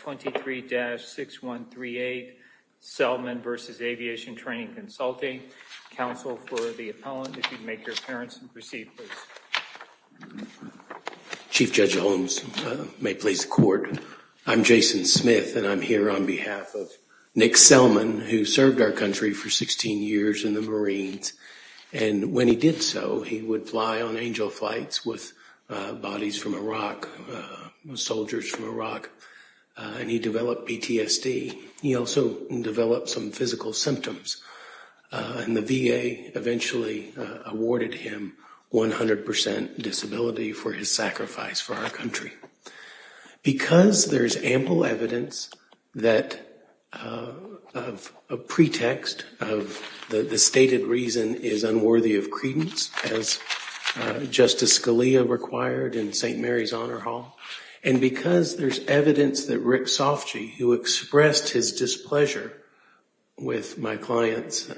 23-6138, Selman v. Aviation Training Consulting. Counsel for the appellant, if you'd make your appearance and proceed, please. Chief Judge Holmes, may it please the court. I'm Jason Smith, and I'm here on behalf of Nick Selman, who served our country for 16 years in the Marines. And when he did so, he would fly on angel flights with bodies from Iraq, soldiers from Iraq. And he developed PTSD. He also developed some physical symptoms. And the VA eventually awarded him 100% disability for his sacrifice for our country. Because there is ample evidence that a pretext of the stated reason is unworthy of credence, as Justice Scalia required in St. Mary's Honor Hall, and because there's evidence that Rick Sofji, who expressed his displeasure with my client's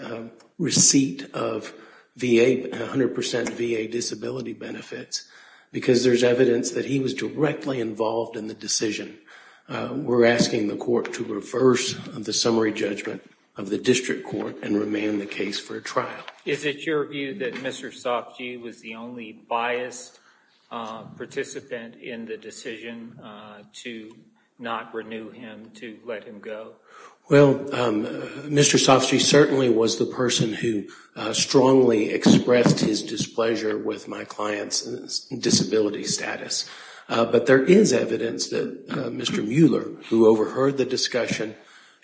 receipt of 100% VA disability benefits, because there's evidence that he was directly involved in the decision, we're asking the court to reverse the summary judgment of the district court and remain the case for a trial. Is it your view that Mr. Sofji was the only biased participant in the decision to not renew him, to let him go? Well, Mr. Sofji certainly was the person who strongly expressed his displeasure with my client's disability status. But there is evidence that Mr. Mueller, who overheard the discussion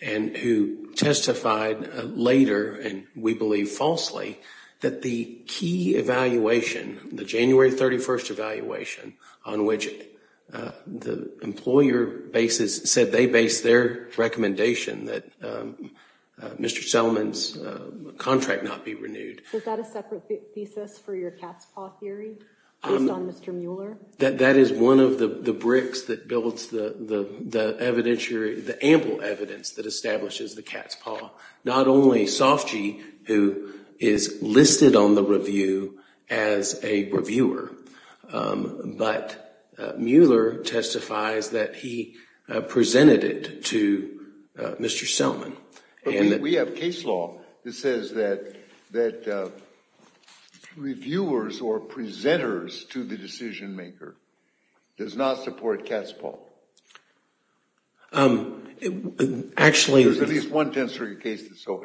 and who testified later, and we believe falsely, that the key evaluation, the January 31st evaluation, on which the employer said they based their recommendation that Mr. Selman's contract not be renewed. Was that a separate thesis for your cat's paw theory based on Mr. Mueller? That is one of the bricks that builds the ample evidence that establishes the cat's paw. Not only Sofji, who is listed on the review as a reviewer, but Mueller testifies that he presented it to Mr. Selman. We have case law that says that reviewers or presenters to the decision maker does not support cat's paw. Actually, there's at least one case that's so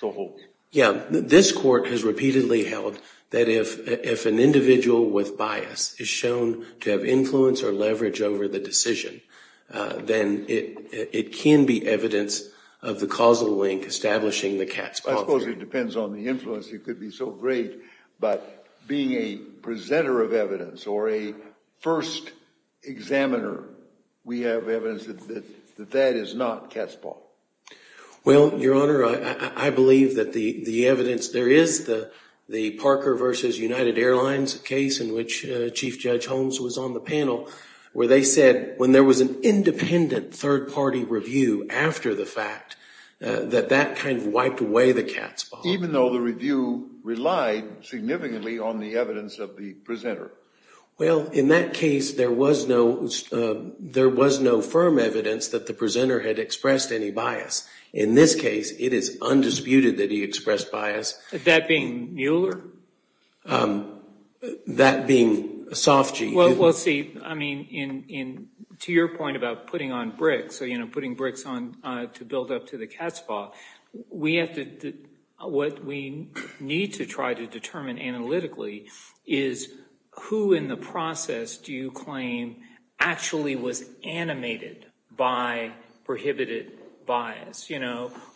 held. Yeah, this court has repeatedly held that if an individual with bias is shown to have influence or leverage over the decision, then it can be evidence of the causal link establishing the cat's paw theory. I suppose it depends on the influence. It could be so great. But being a presenter of evidence or a first examiner, we have evidence that that is not cat's paw. Well, Your Honor, I believe that the evidence, there is the Parker versus United Airlines case in which Chief Judge Holmes was on the panel, where they said when there was an independent third party review after the fact, that that kind of wiped away the cat's paw, even though the review relied significantly on the evidence of the presenter. Well, in that case, there was no firm evidence that the presenter had expressed any bias. In this case, it is undisputed that he expressed bias. That being Mueller? That being Sofgi. Well, let's see. I mean, to your point about putting on bricks, so putting bricks on to build up to the cat's paw, we have to, what we need to try to determine analytically is who in the process do you claim actually was animated by prohibited bias,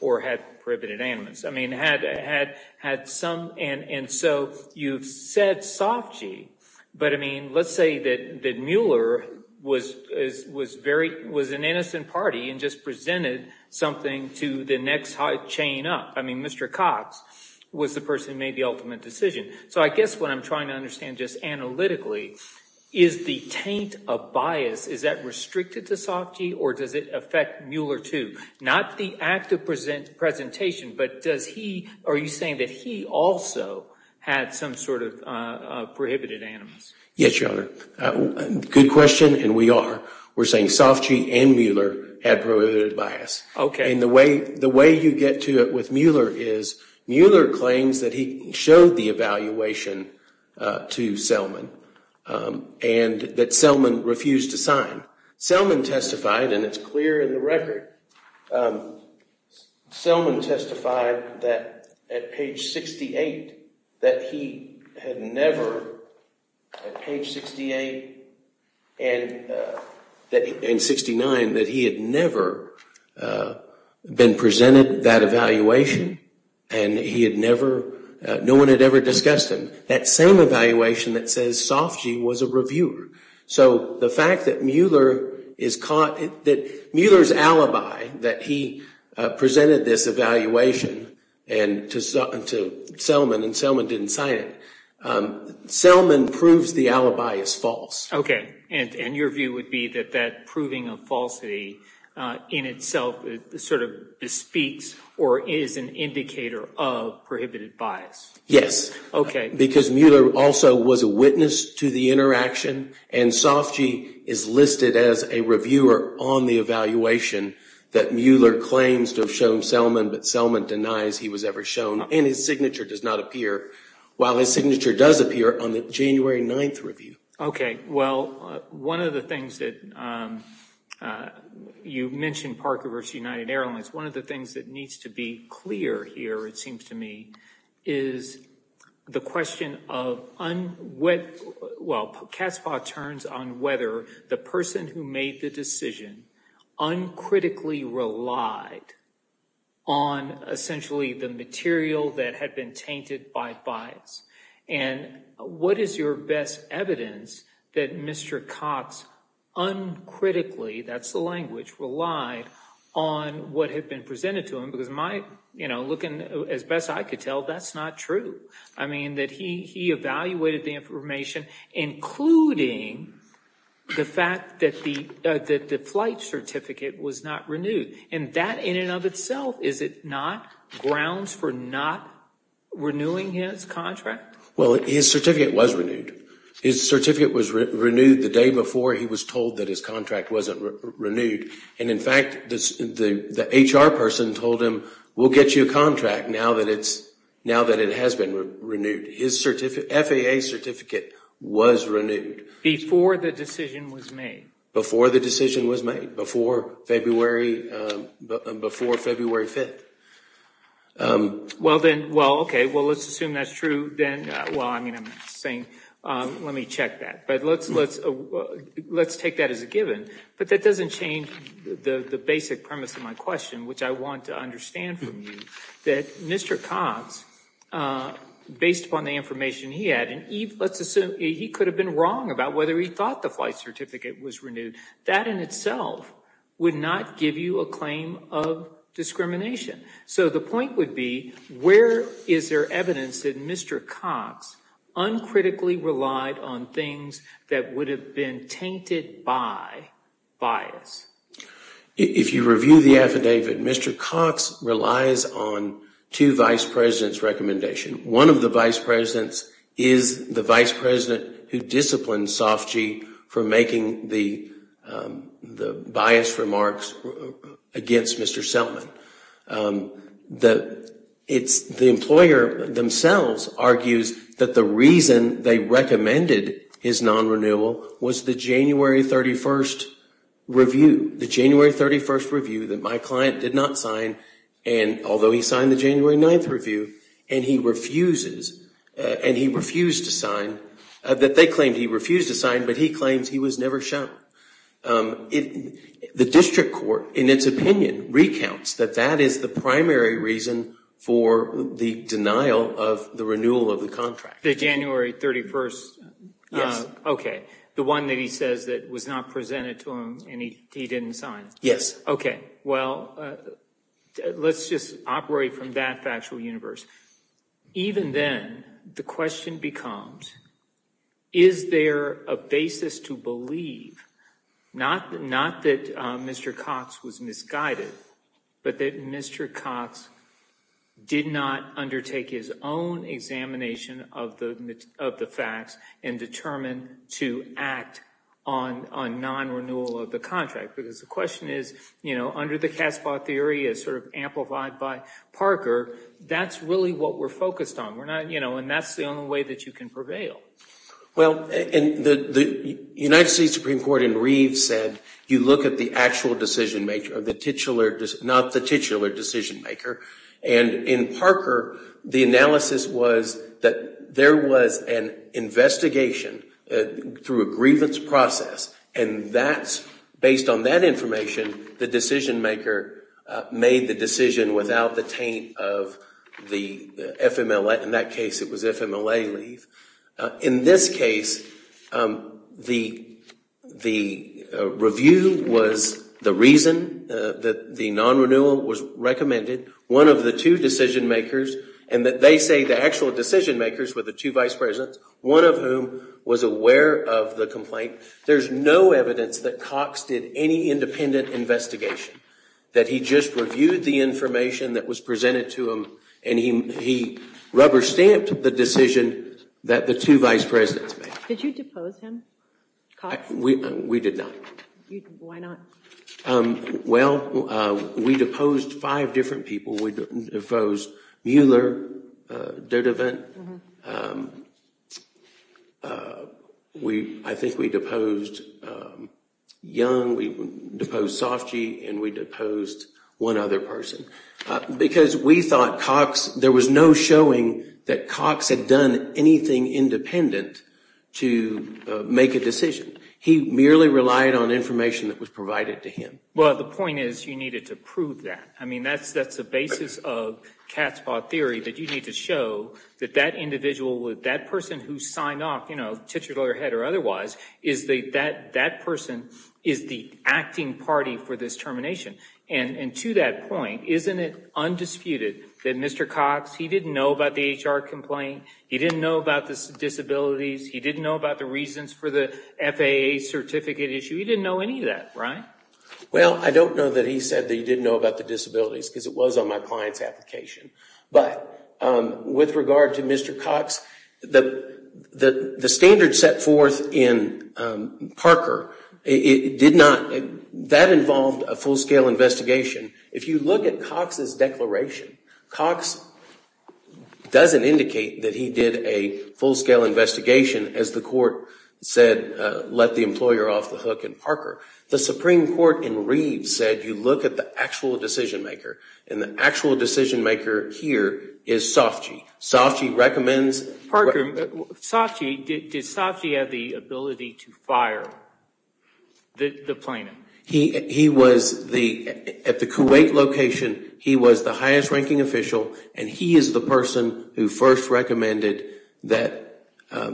or had prohibited animus? I mean, had some, and so you've said Sofgi. But I mean, let's say that Mueller was an innocent party and just presented something to the next chain up. I mean, Mr. Cox was the person who made the ultimate decision. So I guess what I'm trying to understand just analytically is the taint of bias. Is that restricted to Sofgi, or does it affect Mueller too? Not the act of presentation, but does he, are you saying that he also had some sort of prohibited animus? Yes, Your Honor. Good question, and we are. We're saying Sofgi and Mueller had prohibited bias. And the way you get to it with Mueller is Mueller claims that he showed the evaluation to Selman and that Selman refused to sign. Selman testified, and it's clear in the record, Selman testified that at page 68, that he had never, at page 68 and 69, that he had never been presented that evaluation, and he had never, no one had ever discussed him. That same evaluation that says Sofgi was a reviewer. So the fact that Mueller is caught, that Mueller's alibi that he presented this evaluation and to Selman, and Selman didn't sign it, Selman proves the alibi is false. OK, and your view would be that that proving of falsity in itself sort of bespeaks or is an indicator of prohibited bias? Yes, because Mueller also was a witness to the interaction, and Sofgi is listed as a reviewer on the evaluation that Mueller claims to have shown Selman, but Selman denies he was ever shown, and his signature does not appear, while his signature does appear on the January 9th review. OK, well, one of the things that you mentioned, Parker v. United Airlines, one of the things that needs to be clear here, it seems to me, is the question of, well, CASPA turns on whether the person who made the decision uncritically relied on essentially the material that had been tainted by bias. And what is your best evidence that Mr. Cox uncritically, that's the language, relied on what had been presented to him? Because looking as best I could tell, that's not true. I mean, that he evaluated the information, including the fact that the flight certificate was not renewed, and that in and of itself, is it not grounds for not renewing his contract? Well, his certificate was renewed. His certificate was renewed the day before he was told that his contract wasn't renewed. And in fact, the HR person told him, we'll get you a contract now that it has been renewed. His FAA certificate was renewed. Before the decision was made. Before the decision was made, before February 5th. Well, then, well, OK, well, let's assume that's true. Then, well, I mean, I'm saying, let me check that. But let's take that as a given. But that doesn't change the basic premise of my question, which I want to understand from you, that Mr. Cox, based upon the information he had, and let's assume he could have been wrong about whether he thought the flight certificate was renewed, that in itself would not give you a claim of discrimination. So the point would be, where is there evidence that Mr. Cox uncritically relied on things that would have been tainted by bias? If you review the affidavit, Mr. Cox relies on two vice presidents' recommendations. One of the vice presidents is the vice president who disciplined Sofgy for making the bias remarks against Mr. Selman. The employer themselves argues that the reason they recommended his non-renewal was the January 31st review. The January 31st review that my client did not sign, although he signed the January 9th review, and he refused to sign, that they claimed he refused to sign, but he claims he was never shown. The district court, in its opinion, recounts that that is the primary reason for the denial of the renewal of the contract. The January 31st? Yes. OK. The one that he says that was not presented to him, and he didn't sign? Yes. OK, well, let's just operate from that factual universe. Even then, the question becomes, is there a basis to believe, not that Mr. Cox was misguided, but that Mr. Cox did not undertake his own examination of the facts and determined to act on non-renewal of the contract? Because the question is, under the Casbah theory, as sort of amplified by Parker, that's really what we're focused on. And that's the only way that you can prevail. Well, the United States Supreme Court in Reeves said you look at the actual decision maker, not the titular decision maker. And in Parker, the analysis was that there was an investigation through a grievance process, and based on that information, the decision maker made the decision without the taint of the FMLA. In that case, it was FMLA leave. In this case, the review was the reason that the non-renewal was recommended. One of the two decision makers, and they say the actual decision makers were the two vice presidents, one of whom was aware of the complaint. There's no evidence that Cox did any independent investigation, that he just reviewed the information that was presented to him, and he rubber-stamped the decision that the two vice presidents made. Did you depose him, Cox? We did not. Why not? Well, we deposed five different people. We deposed Mueller, Dutervent. We, I think we deposed Young, we deposed Sofji, and we deposed one other person. Because we thought Cox, there was no showing that Cox had done anything independent to make a decision. He merely relied on information that was provided to him. Well, the point is, you needed to prove that. I mean, that's the basis of Cat's Paw Theory, that you need to show that that's that individual, that person who signed off, you know, titular head or otherwise, is that that person is the acting party for this termination. And to that point, isn't it undisputed that Mr. Cox, he didn't know about the HR complaint. He didn't know about the disabilities. He didn't know about the reasons for the FAA certificate issue. He didn't know any of that, right? Well, I don't know that he said that he didn't know about the disabilities, because it was on my client's application. But with regard to Mr. Cox, the standard set forth in Parker, it did not, that involved a full-scale investigation. If you look at Cox's declaration, Cox doesn't indicate that he did a full-scale investigation as the court said, let the employer off the hook in Parker. The Supreme Court in Reed said, you look at the actual decision maker. And the actual decision maker here is Sofji. Sofji recommends. Parker, Sofji, did Sofji have the ability to fire the plaintiff? He was the, at the Kuwait location, he was the highest ranking official. And he is the person who first recommended that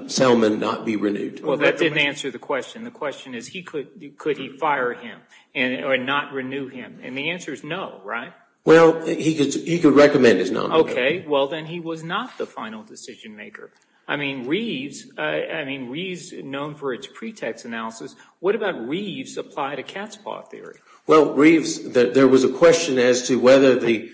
Selman not be renewed. Well, that didn't answer the question. The question is, could he fire him and not renew him? And the answer is no, right? Well, he could recommend his nominee. OK. Well, then he was not the final decision maker. I mean, Reeves, I mean, Reeves, known for its pretext analysis, what about Reeves' apply to Katzpah theory? Well, Reeves, there was a question as to whether the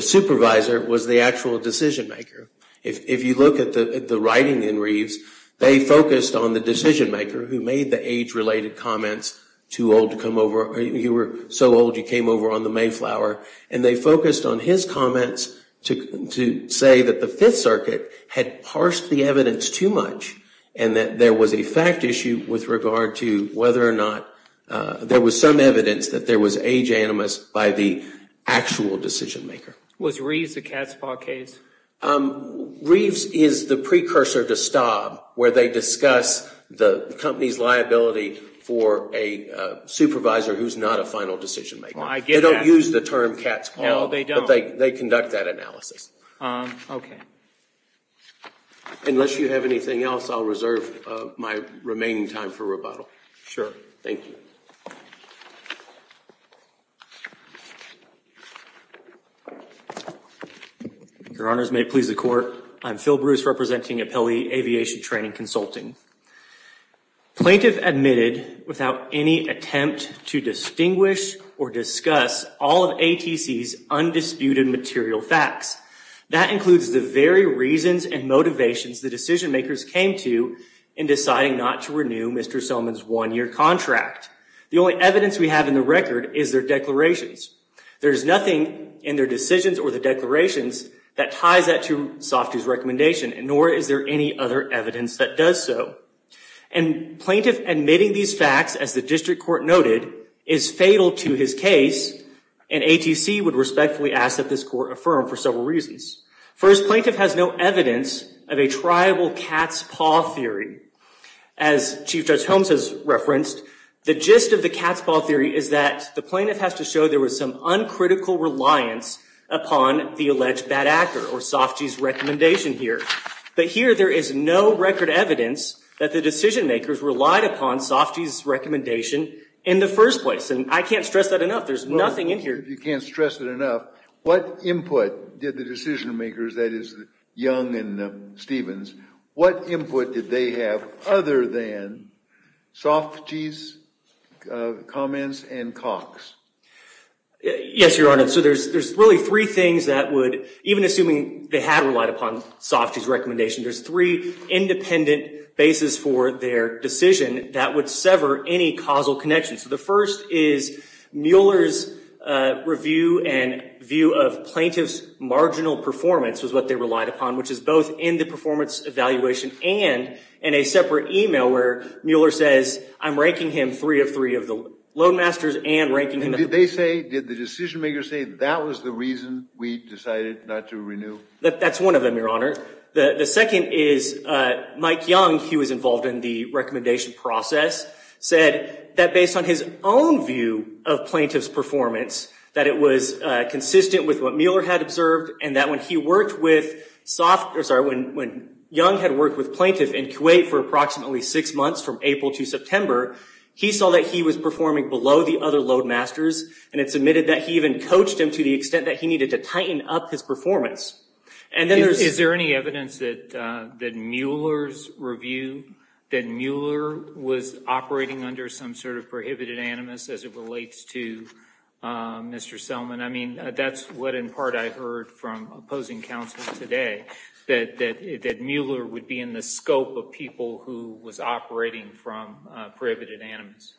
supervisor was the actual decision maker. If you look at the writing in Reeves, they focused on the decision maker who made the age-related comments, too old to come over, you were so old you came over on the Mayflower. And they focused on his comments to say that the Fifth Circuit had parsed the evidence too much and that there was a fact issue with regard to whether or not there was some evidence that there was age animus by the actual decision maker. Was Reeves the Katzpah case? Reeves is the precursor to Staub, where they discuss the company's liability for a supervisor who's not a final decision maker. Well, I get that. They don't use the term Katzpah. No, they don't. But they conduct that analysis. OK. Unless you have anything else, I'll reserve my remaining time for rebuttal. Sure. Thank you. Your Honors, may it please the Court, I'm Phil Bruce representing Appellee Aviation Training Consulting. Plaintiff admitted without any attempt to distinguish or discuss all of ATC's undisputed material facts. That includes the very reasons and motivations the decision makers came to in deciding not to renew Mr. Soman's one-year contract. The only evidence we have in the record is their declarations. There is nothing in their decisions or the declarations that ties that to Softy's recommendation, nor is there any other evidence that does so. And plaintiff admitting these facts, as the district court noted, is fatal to his case. And ATC would respectfully ask that this court affirm for several reasons. First, plaintiff has no evidence of a tribal Katzpah theory. As Chief Judge Holmes has referenced, the gist of the Katzpah theory is that the plaintiff has to show there was some uncritical reliance upon the alleged bad actor, or Softy's recommendation here. But here, there is no record evidence that the decision makers relied upon Softy's recommendation in the first place. And I can't stress that enough. There's nothing in here. You can't stress it enough. What input did the decision makers, that is Young and Stevens, what input did they have other than Softy's comments and Cox? Yes, Your Honor. So there's really three things that would, even assuming they had relied upon Softy's recommendation, there's three independent bases for their decision that would sever any causal connection. So the first is Mueller's review and view of plaintiff's marginal performance was what they relied upon, which is both in the performance evaluation and in a separate email where Mueller says, I'm ranking him three of three of the loadmasters and ranking him. Did they say, did the decision makers say that was the reason we decided not to renew? That's one of them, Your Honor. The second is Mike Young, he was involved in the recommendation process, said that based on his own view of plaintiff's performance, that it was consistent with what Mueller had observed and that when Young had worked with plaintiff in Kuwait for approximately six months from April to September, he saw that he was performing below the other loadmasters. And it's admitted that he even coached him to the extent that he needed to tighten up his performance. And then there's- Is there any evidence that Mueller's review, that Mueller was operating under some sort of prohibited animus as it relates to Mr. Selman? I mean, that's what in part I heard from opposing counsel today, that Mueller would be in the scope of people who was operating from prohibited animus.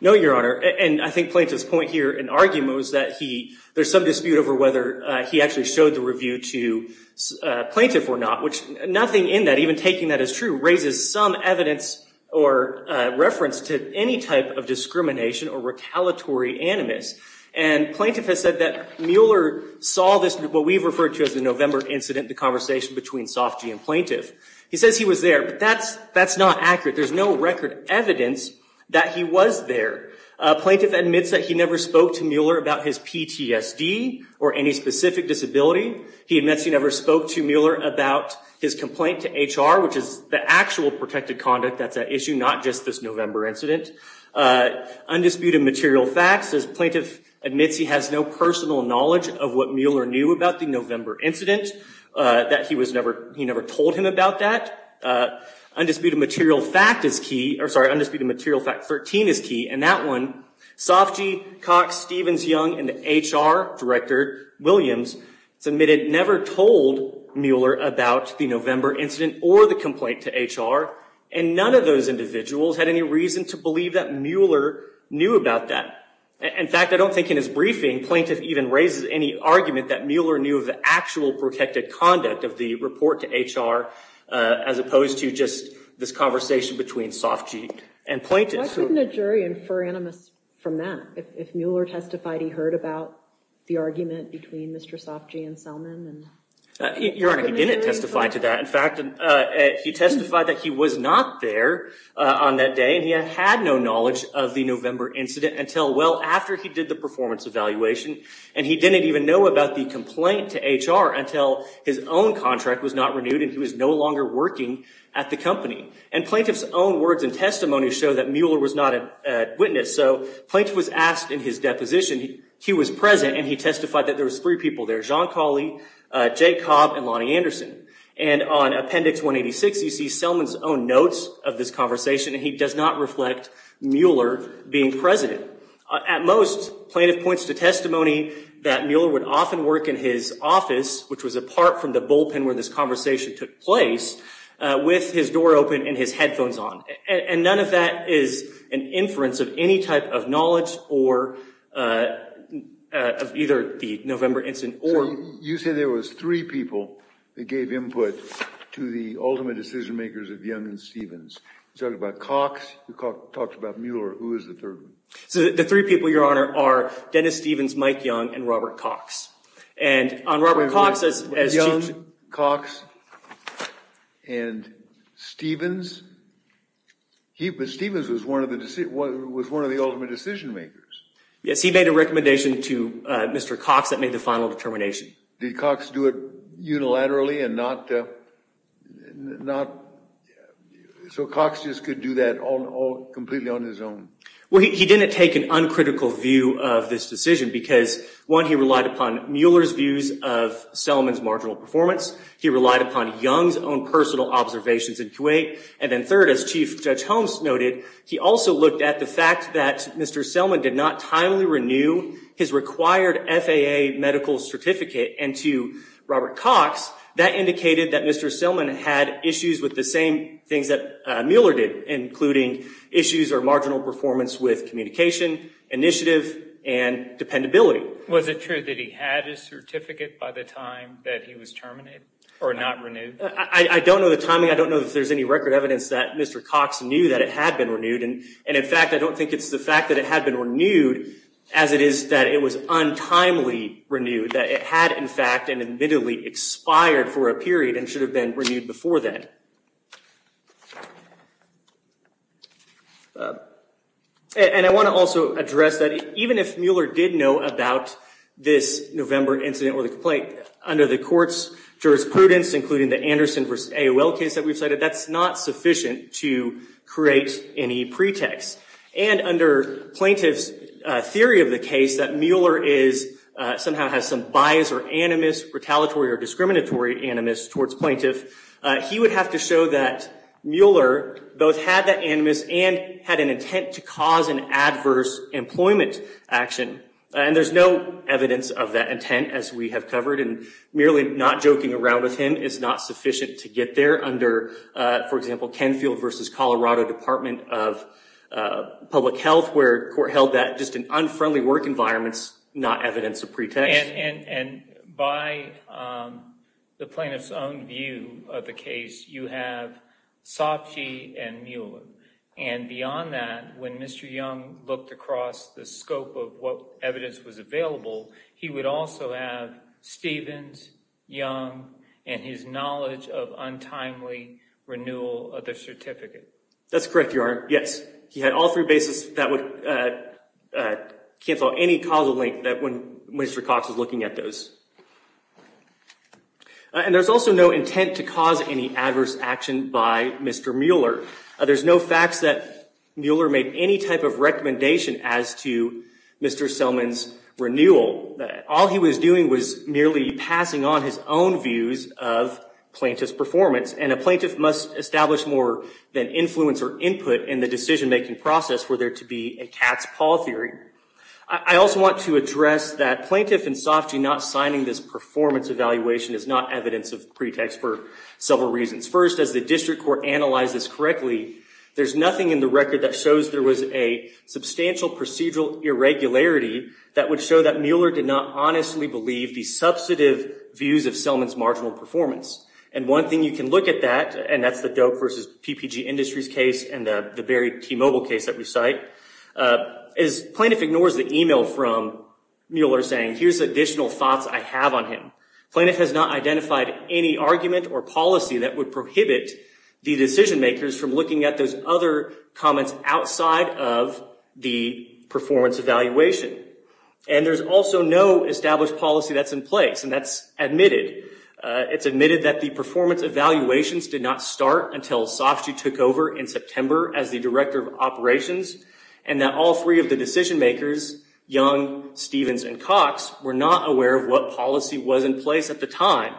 No, Your Honor. And I think plaintiff's point here in argument was that there's some dispute over whether he actually showed the review to plaintiff or not, which nothing in that, even taking that as true, raises some evidence or reference to any type of discrimination or retaliatory animus. And plaintiff has said that Mueller saw this, what we've referred to as the November incident, the conversation between Sofji and plaintiff. He says he was there, but that's not accurate. There's no record evidence that he was there. Plaintiff admits that he never spoke to Mueller about his PTSD or any specific disability. He admits he never spoke to Mueller about his complaint to HR, which is the actual protected conduct that's at issue, not just this November incident. Undisputed material facts, says plaintiff admits he has no personal knowledge of what Mueller knew about the November incident, that he never told him about that. Undisputed material fact is key, or sorry, undisputed material fact 13 is key. And that one, Sofji Cox-Stevens-Young and the HR director, Williams, submitted never told Mueller about the November incident or the complaint to HR. And none of those individuals had any reason to believe that Mueller knew about that. In fact, I don't think in his briefing plaintiff even raises any argument that Mueller knew of the actual protected conduct of the report to HR, as opposed to just this conversation between Sofji and plaintiff. Why couldn't a jury infer animus from that? If Mueller testified he heard about the argument between Mr. Sofji and Selman? Your Honor, he didn't testify to that. In fact, he testified that he was not there on that day, and he had had no knowledge of the November incident until well after he did the performance evaluation. And he didn't even know about the complaint to HR until his own contract was not renewed and he was no longer working at the company. And plaintiff's own words and testimony show that Mueller was not a witness. So plaintiff was asked in his deposition, he was present, and he testified that there was three people there, John Cawley, Jay Cobb, and Lonnie Anderson. And on Appendix 186, you see Selman's own notes of this conversation. And he does not reflect Mueller being president. At most, plaintiff points to testimony that Mueller would often work in his office, which was apart from the bullpen where this conversation took place, with his door open and his headphones on. And none of that is an inference of any type of knowledge or of either the November incident or. You said there was three people that gave input to the ultimate decision makers of Young and Stevens. You're talking about Cox. You talked about Mueller. Who is the third one? So the three people, Your Honor, are Dennis Stevens, Mike Young, and Robert Cox. And on Robert Cox, as Young, Cox, and Stevens, Stevens was one of the ultimate decision makers. Yes, he made a recommendation to Mr. Cox that made the final determination. Did Cox do it unilaterally and not, so Cox just could do that completely on his own? Well, he didn't take an uncritical view of this decision because, one, he relied upon Mueller's views of Selman's marginal performance. He relied upon Young's own personal observations in Kuwait. And then third, as Chief Judge Holmes noted, he also looked at the fact that Mr. Selman did not timely renew his required FAA medical certificate. And to Robert Cox, that indicated that Mr. Selman had issues with the same things that Mueller did, including issues or marginal performance with communication, initiative, and dependability. Was it true that he had his certificate by the time that he was terminated or not renewed? I don't know the timing. I don't know if there's any record evidence that Mr. Cox knew that it had been renewed. And in fact, I don't think it's the fact that it had been renewed as it is that it was untimely renewed, that it had, in fact, and admittedly expired for a period and should have been renewed before then. And I want to also address that even if Mueller did know about this November incident or the complaint, under the court's jurisprudence, including the Anderson v. AOL case that we've cited, that's not sufficient to create any pretext. And under plaintiff's theory of the case that Mueller somehow has some bias or animus, retaliatory or discriminatory animus towards plaintiff, he would have to show that Mueller both had that animus and had an intent to cause an adverse employment action. And there's no evidence of that intent, as we have covered. And merely not joking around with him is not sufficient to get there under, for example, Kenfield v. Colorado Department of Public Health, where court held that just an unfriendly work environment's not evidence of pretext. And by the plaintiff's own view of the case, you have Sopcich and Mueller. And beyond that, when Mr. Young looked across the scope of what evidence was available, he would also have Stevens, Young, and his knowledge of untimely renewal of the certificate. That's correct, Your Honor. Yes. He had all three bases that would cancel out any causal link that when Mr. Cox was looking at those. And there's also no intent to cause any adverse action by Mr. Mueller. There's no facts that Mueller made any type of recommendation as to Mr. Selman's renewal. All he was doing was merely passing on his own views of plaintiff's performance. And a plaintiff must establish more than influence or input in the decision-making process for there to be a cat's paw theory. I also want to address that plaintiff and Sopcich not signing this performance evaluation is not evidence of pretext for several reasons. First, as the district court analyzed this correctly, there's nothing in the record that shows there was a substantial procedural irregularity that would show that Mueller did not honestly believe the substantive views of Selman's marginal performance. And one thing you can look at that, and that's the Doak versus PPG Industries case and the Barry T Mobile case that we cite, is plaintiff ignores the email from Mueller saying, here's additional thoughts I have on him. Plaintiff has not identified any argument or policy that would prohibit the decision-makers from looking at those other comments outside of the performance evaluation. And there's also no established policy that's in place, and that's admitted. It's admitted that the performance evaluations did not start until Sopcich took over in September as the director of operations, and that all three of the decision-makers, Young, Stevens, and Cox, were not aware of what policy was in place at the time.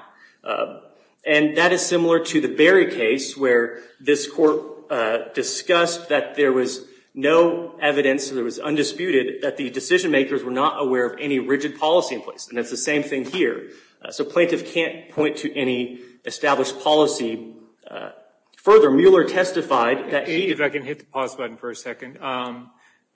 And that is similar to the Barry case, where this court discussed that there was no evidence, there was undisputed, that the decision-makers were not aware of any rigid policy in place. And it's the same thing here. So plaintiff can't point to any established policy. Further, Mueller testified that he If I can hit the pause button for a second.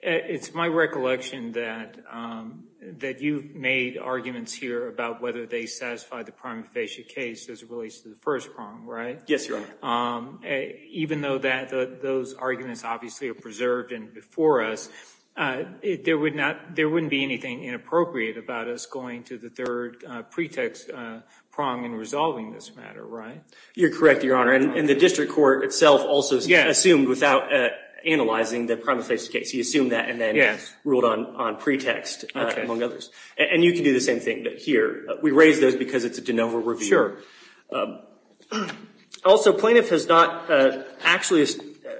It's my recollection that you've made arguments here about whether they satisfy the prima facie case as it relates to the first prong, right? Yes, Your Honor. Even though those arguments obviously are preserved and before us, there wouldn't be anything inappropriate about us going to the third pretext prong and resolving this matter, right? You're correct, Your Honor. And the district court itself also assumed without analyzing the prima facie case. He assumed that and then ruled on pretext, among others. And you can do the same thing here. We raise those because it's a de novo review. Also, plaintiff has not actually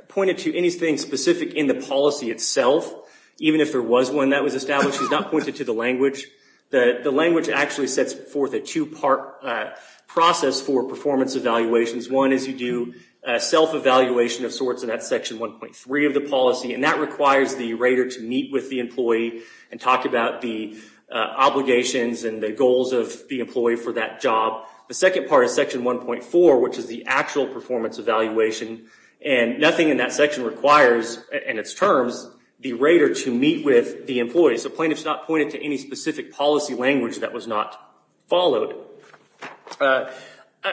pointed to anything specific in the policy itself, even if there was one that was established. He's not pointed to the language. The language actually sets forth a two-part process for performance evaluations. One is you do self-evaluation of sorts in that section 1.3 of the policy. And that requires the rater to meet with the employee and talk about the obligations and the goals of the employee for that job. The second part is section 1.4, which is the actual performance evaluation. And nothing in that section requires, in its terms, the rater to meet with the employee. So plaintiff's not pointed to any specific policy language that was not followed. I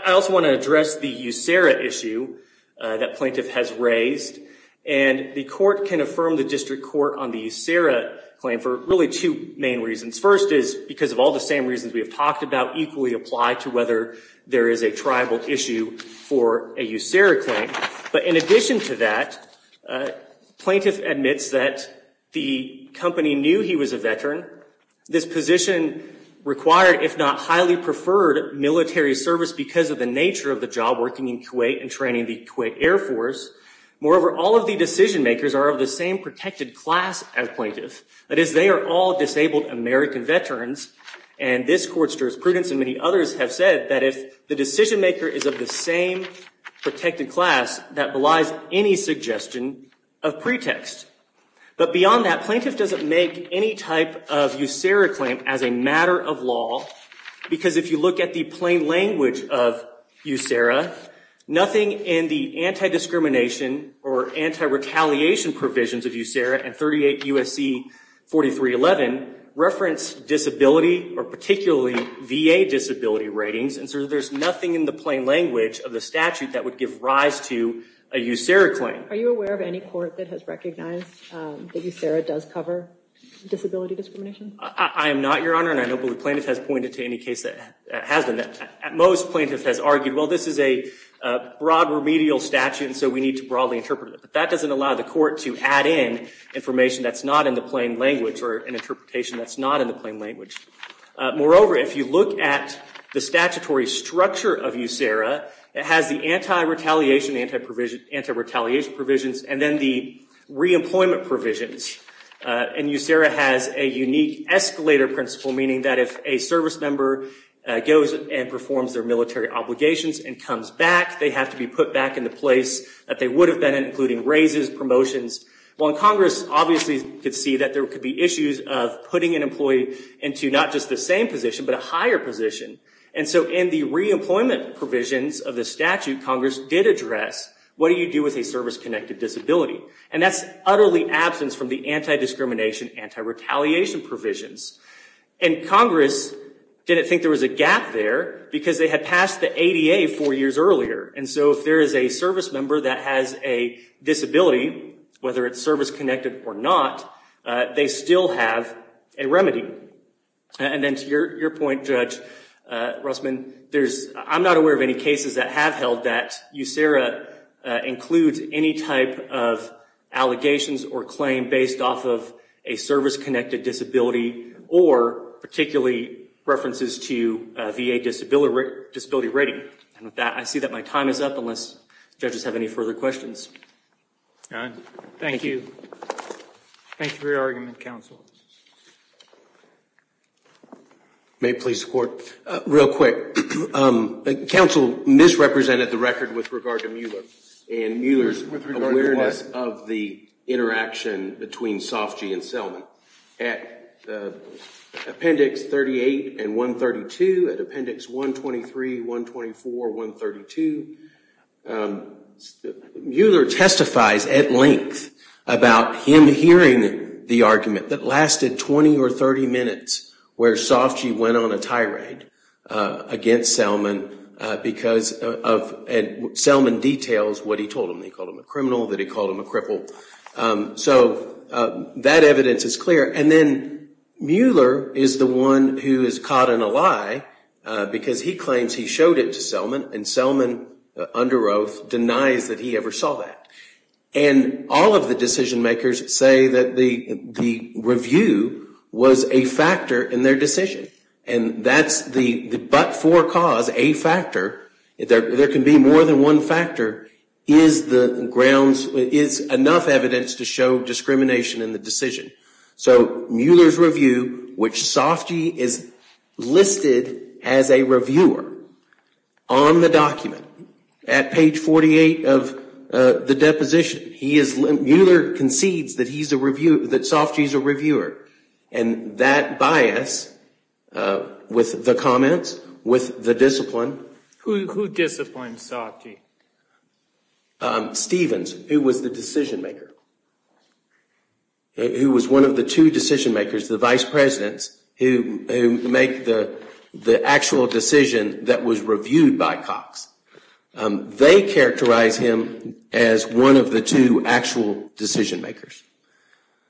also want to address the USERRA issue that plaintiff has raised. And the court can affirm the district court on the USERRA claim for really two main reasons. First is because of all the same reasons we have talked about, equally apply to whether there is a tribal issue for a USERRA claim. But in addition to that, plaintiff admits that the company knew he was a veteran. This position required, if not highly preferred, military service because of the nature of the job working in Kuwait and training the Kuwait Air Force. Moreover, all of the decision makers are of the same protected class as plaintiff. That is, they are all disabled American veterans. And this court's jurisprudence and many others have said that if the decision maker is of the same protected class, that belies any suggestion of pretext. But beyond that, plaintiff doesn't make any type of USERRA claim as a matter of law because if you look at the plain language of USERRA, nothing in the anti-discrimination or anti-retaliation provisions of USERRA and 38 USC 4311 reference disability or particularly VA disability ratings. And so there's nothing in the plain language of the statute that would give rise to a USERRA claim. Are you aware of any court that has recognized that USERRA does cover disability discrimination? I am not, Your Honor. And I don't believe plaintiff has pointed to any case that has done that. At most, plaintiff has argued, well, this is a broad remedial statute, and so we need to broadly interpret it. But that doesn't allow the court to add in information that's not in the plain language or an interpretation that's not in the plain language. Moreover, if you look at the statutory structure of USERRA, it has the anti-retaliation, anti-retaliation provisions, and then the re-employment provisions. And USERRA has a unique escalator principle, meaning that if a service member goes and performs their military obligations and comes back, they have to be put back in the place that they would have been in, including raises, promotions. Well, Congress obviously could see that there could be issues of putting an employee into not just the same position, but a higher position. And so in the re-employment provisions of the statute, Congress did address, what do you do with a service-connected disability? And that's utterly absent from the anti-discrimination, anti-retaliation provisions. And Congress didn't think there was a gap there, because they had passed the ADA four years earlier. And so if there is a service member that has a disability, whether it's service-connected or not, they still have a remedy. And then to your point, Judge Russman, I'm not aware of any cases that have held that USERRA includes any type of allegations or claim based off of a service-connected disability, or particularly references to VA disability rating. And with that, I see that my time is up, unless judges have any further questions. Thank you. Thank you for your argument, counsel. May it please the court? Real quick, counsel misrepresented the record with regard to Mueller, and Mueller's awareness of the interaction between Sofgy and Selman. At appendix 38 and 132, at appendix 123, 124, 132, Mueller testifies at length about him hearing the argument that lasted 20 or 30 minutes, where Sofgy went on a tirade against Selman, because Selman details what he told him. That he called him a criminal, that he called him a cripple. So that evidence is clear. And then Mueller is the one who is caught in a lie, because he claims he showed it to Selman, and Selman, under oath, denies that he ever saw that. And all of the decision-makers say that the review was a factor in their decision. And that's the but-for cause, a factor. There can be more than one factor, is enough evidence to show discrimination in the decision. So Mueller's review, which Sofgy is listed as a reviewer, on the document, at page 48 of the deposition, he is, Mueller concedes that he's a reviewer, that Sofgy's a reviewer. And that bias, with the comments, with the discipline. Who disciplined Sofgy? Stevens, who was the decision-maker, who was one of the two decision-makers, the vice presidents, who make the actual decision that was reviewed by Cox. They characterize him as one of the two actual decision-makers.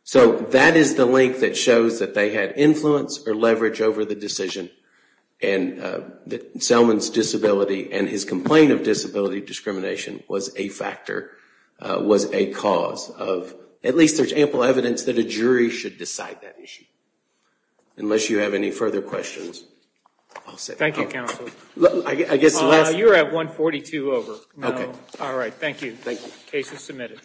So that is the link that shows that they had influence or leverage over the decision. And Selman's disability and his complaint of disability discrimination was a factor, was a cause of, at least there's ample evidence, that a jury should decide that issue. Unless you have any further questions, I'll say no more. I guess the last. You're at 142 over. All right, thank you. Case is submitted.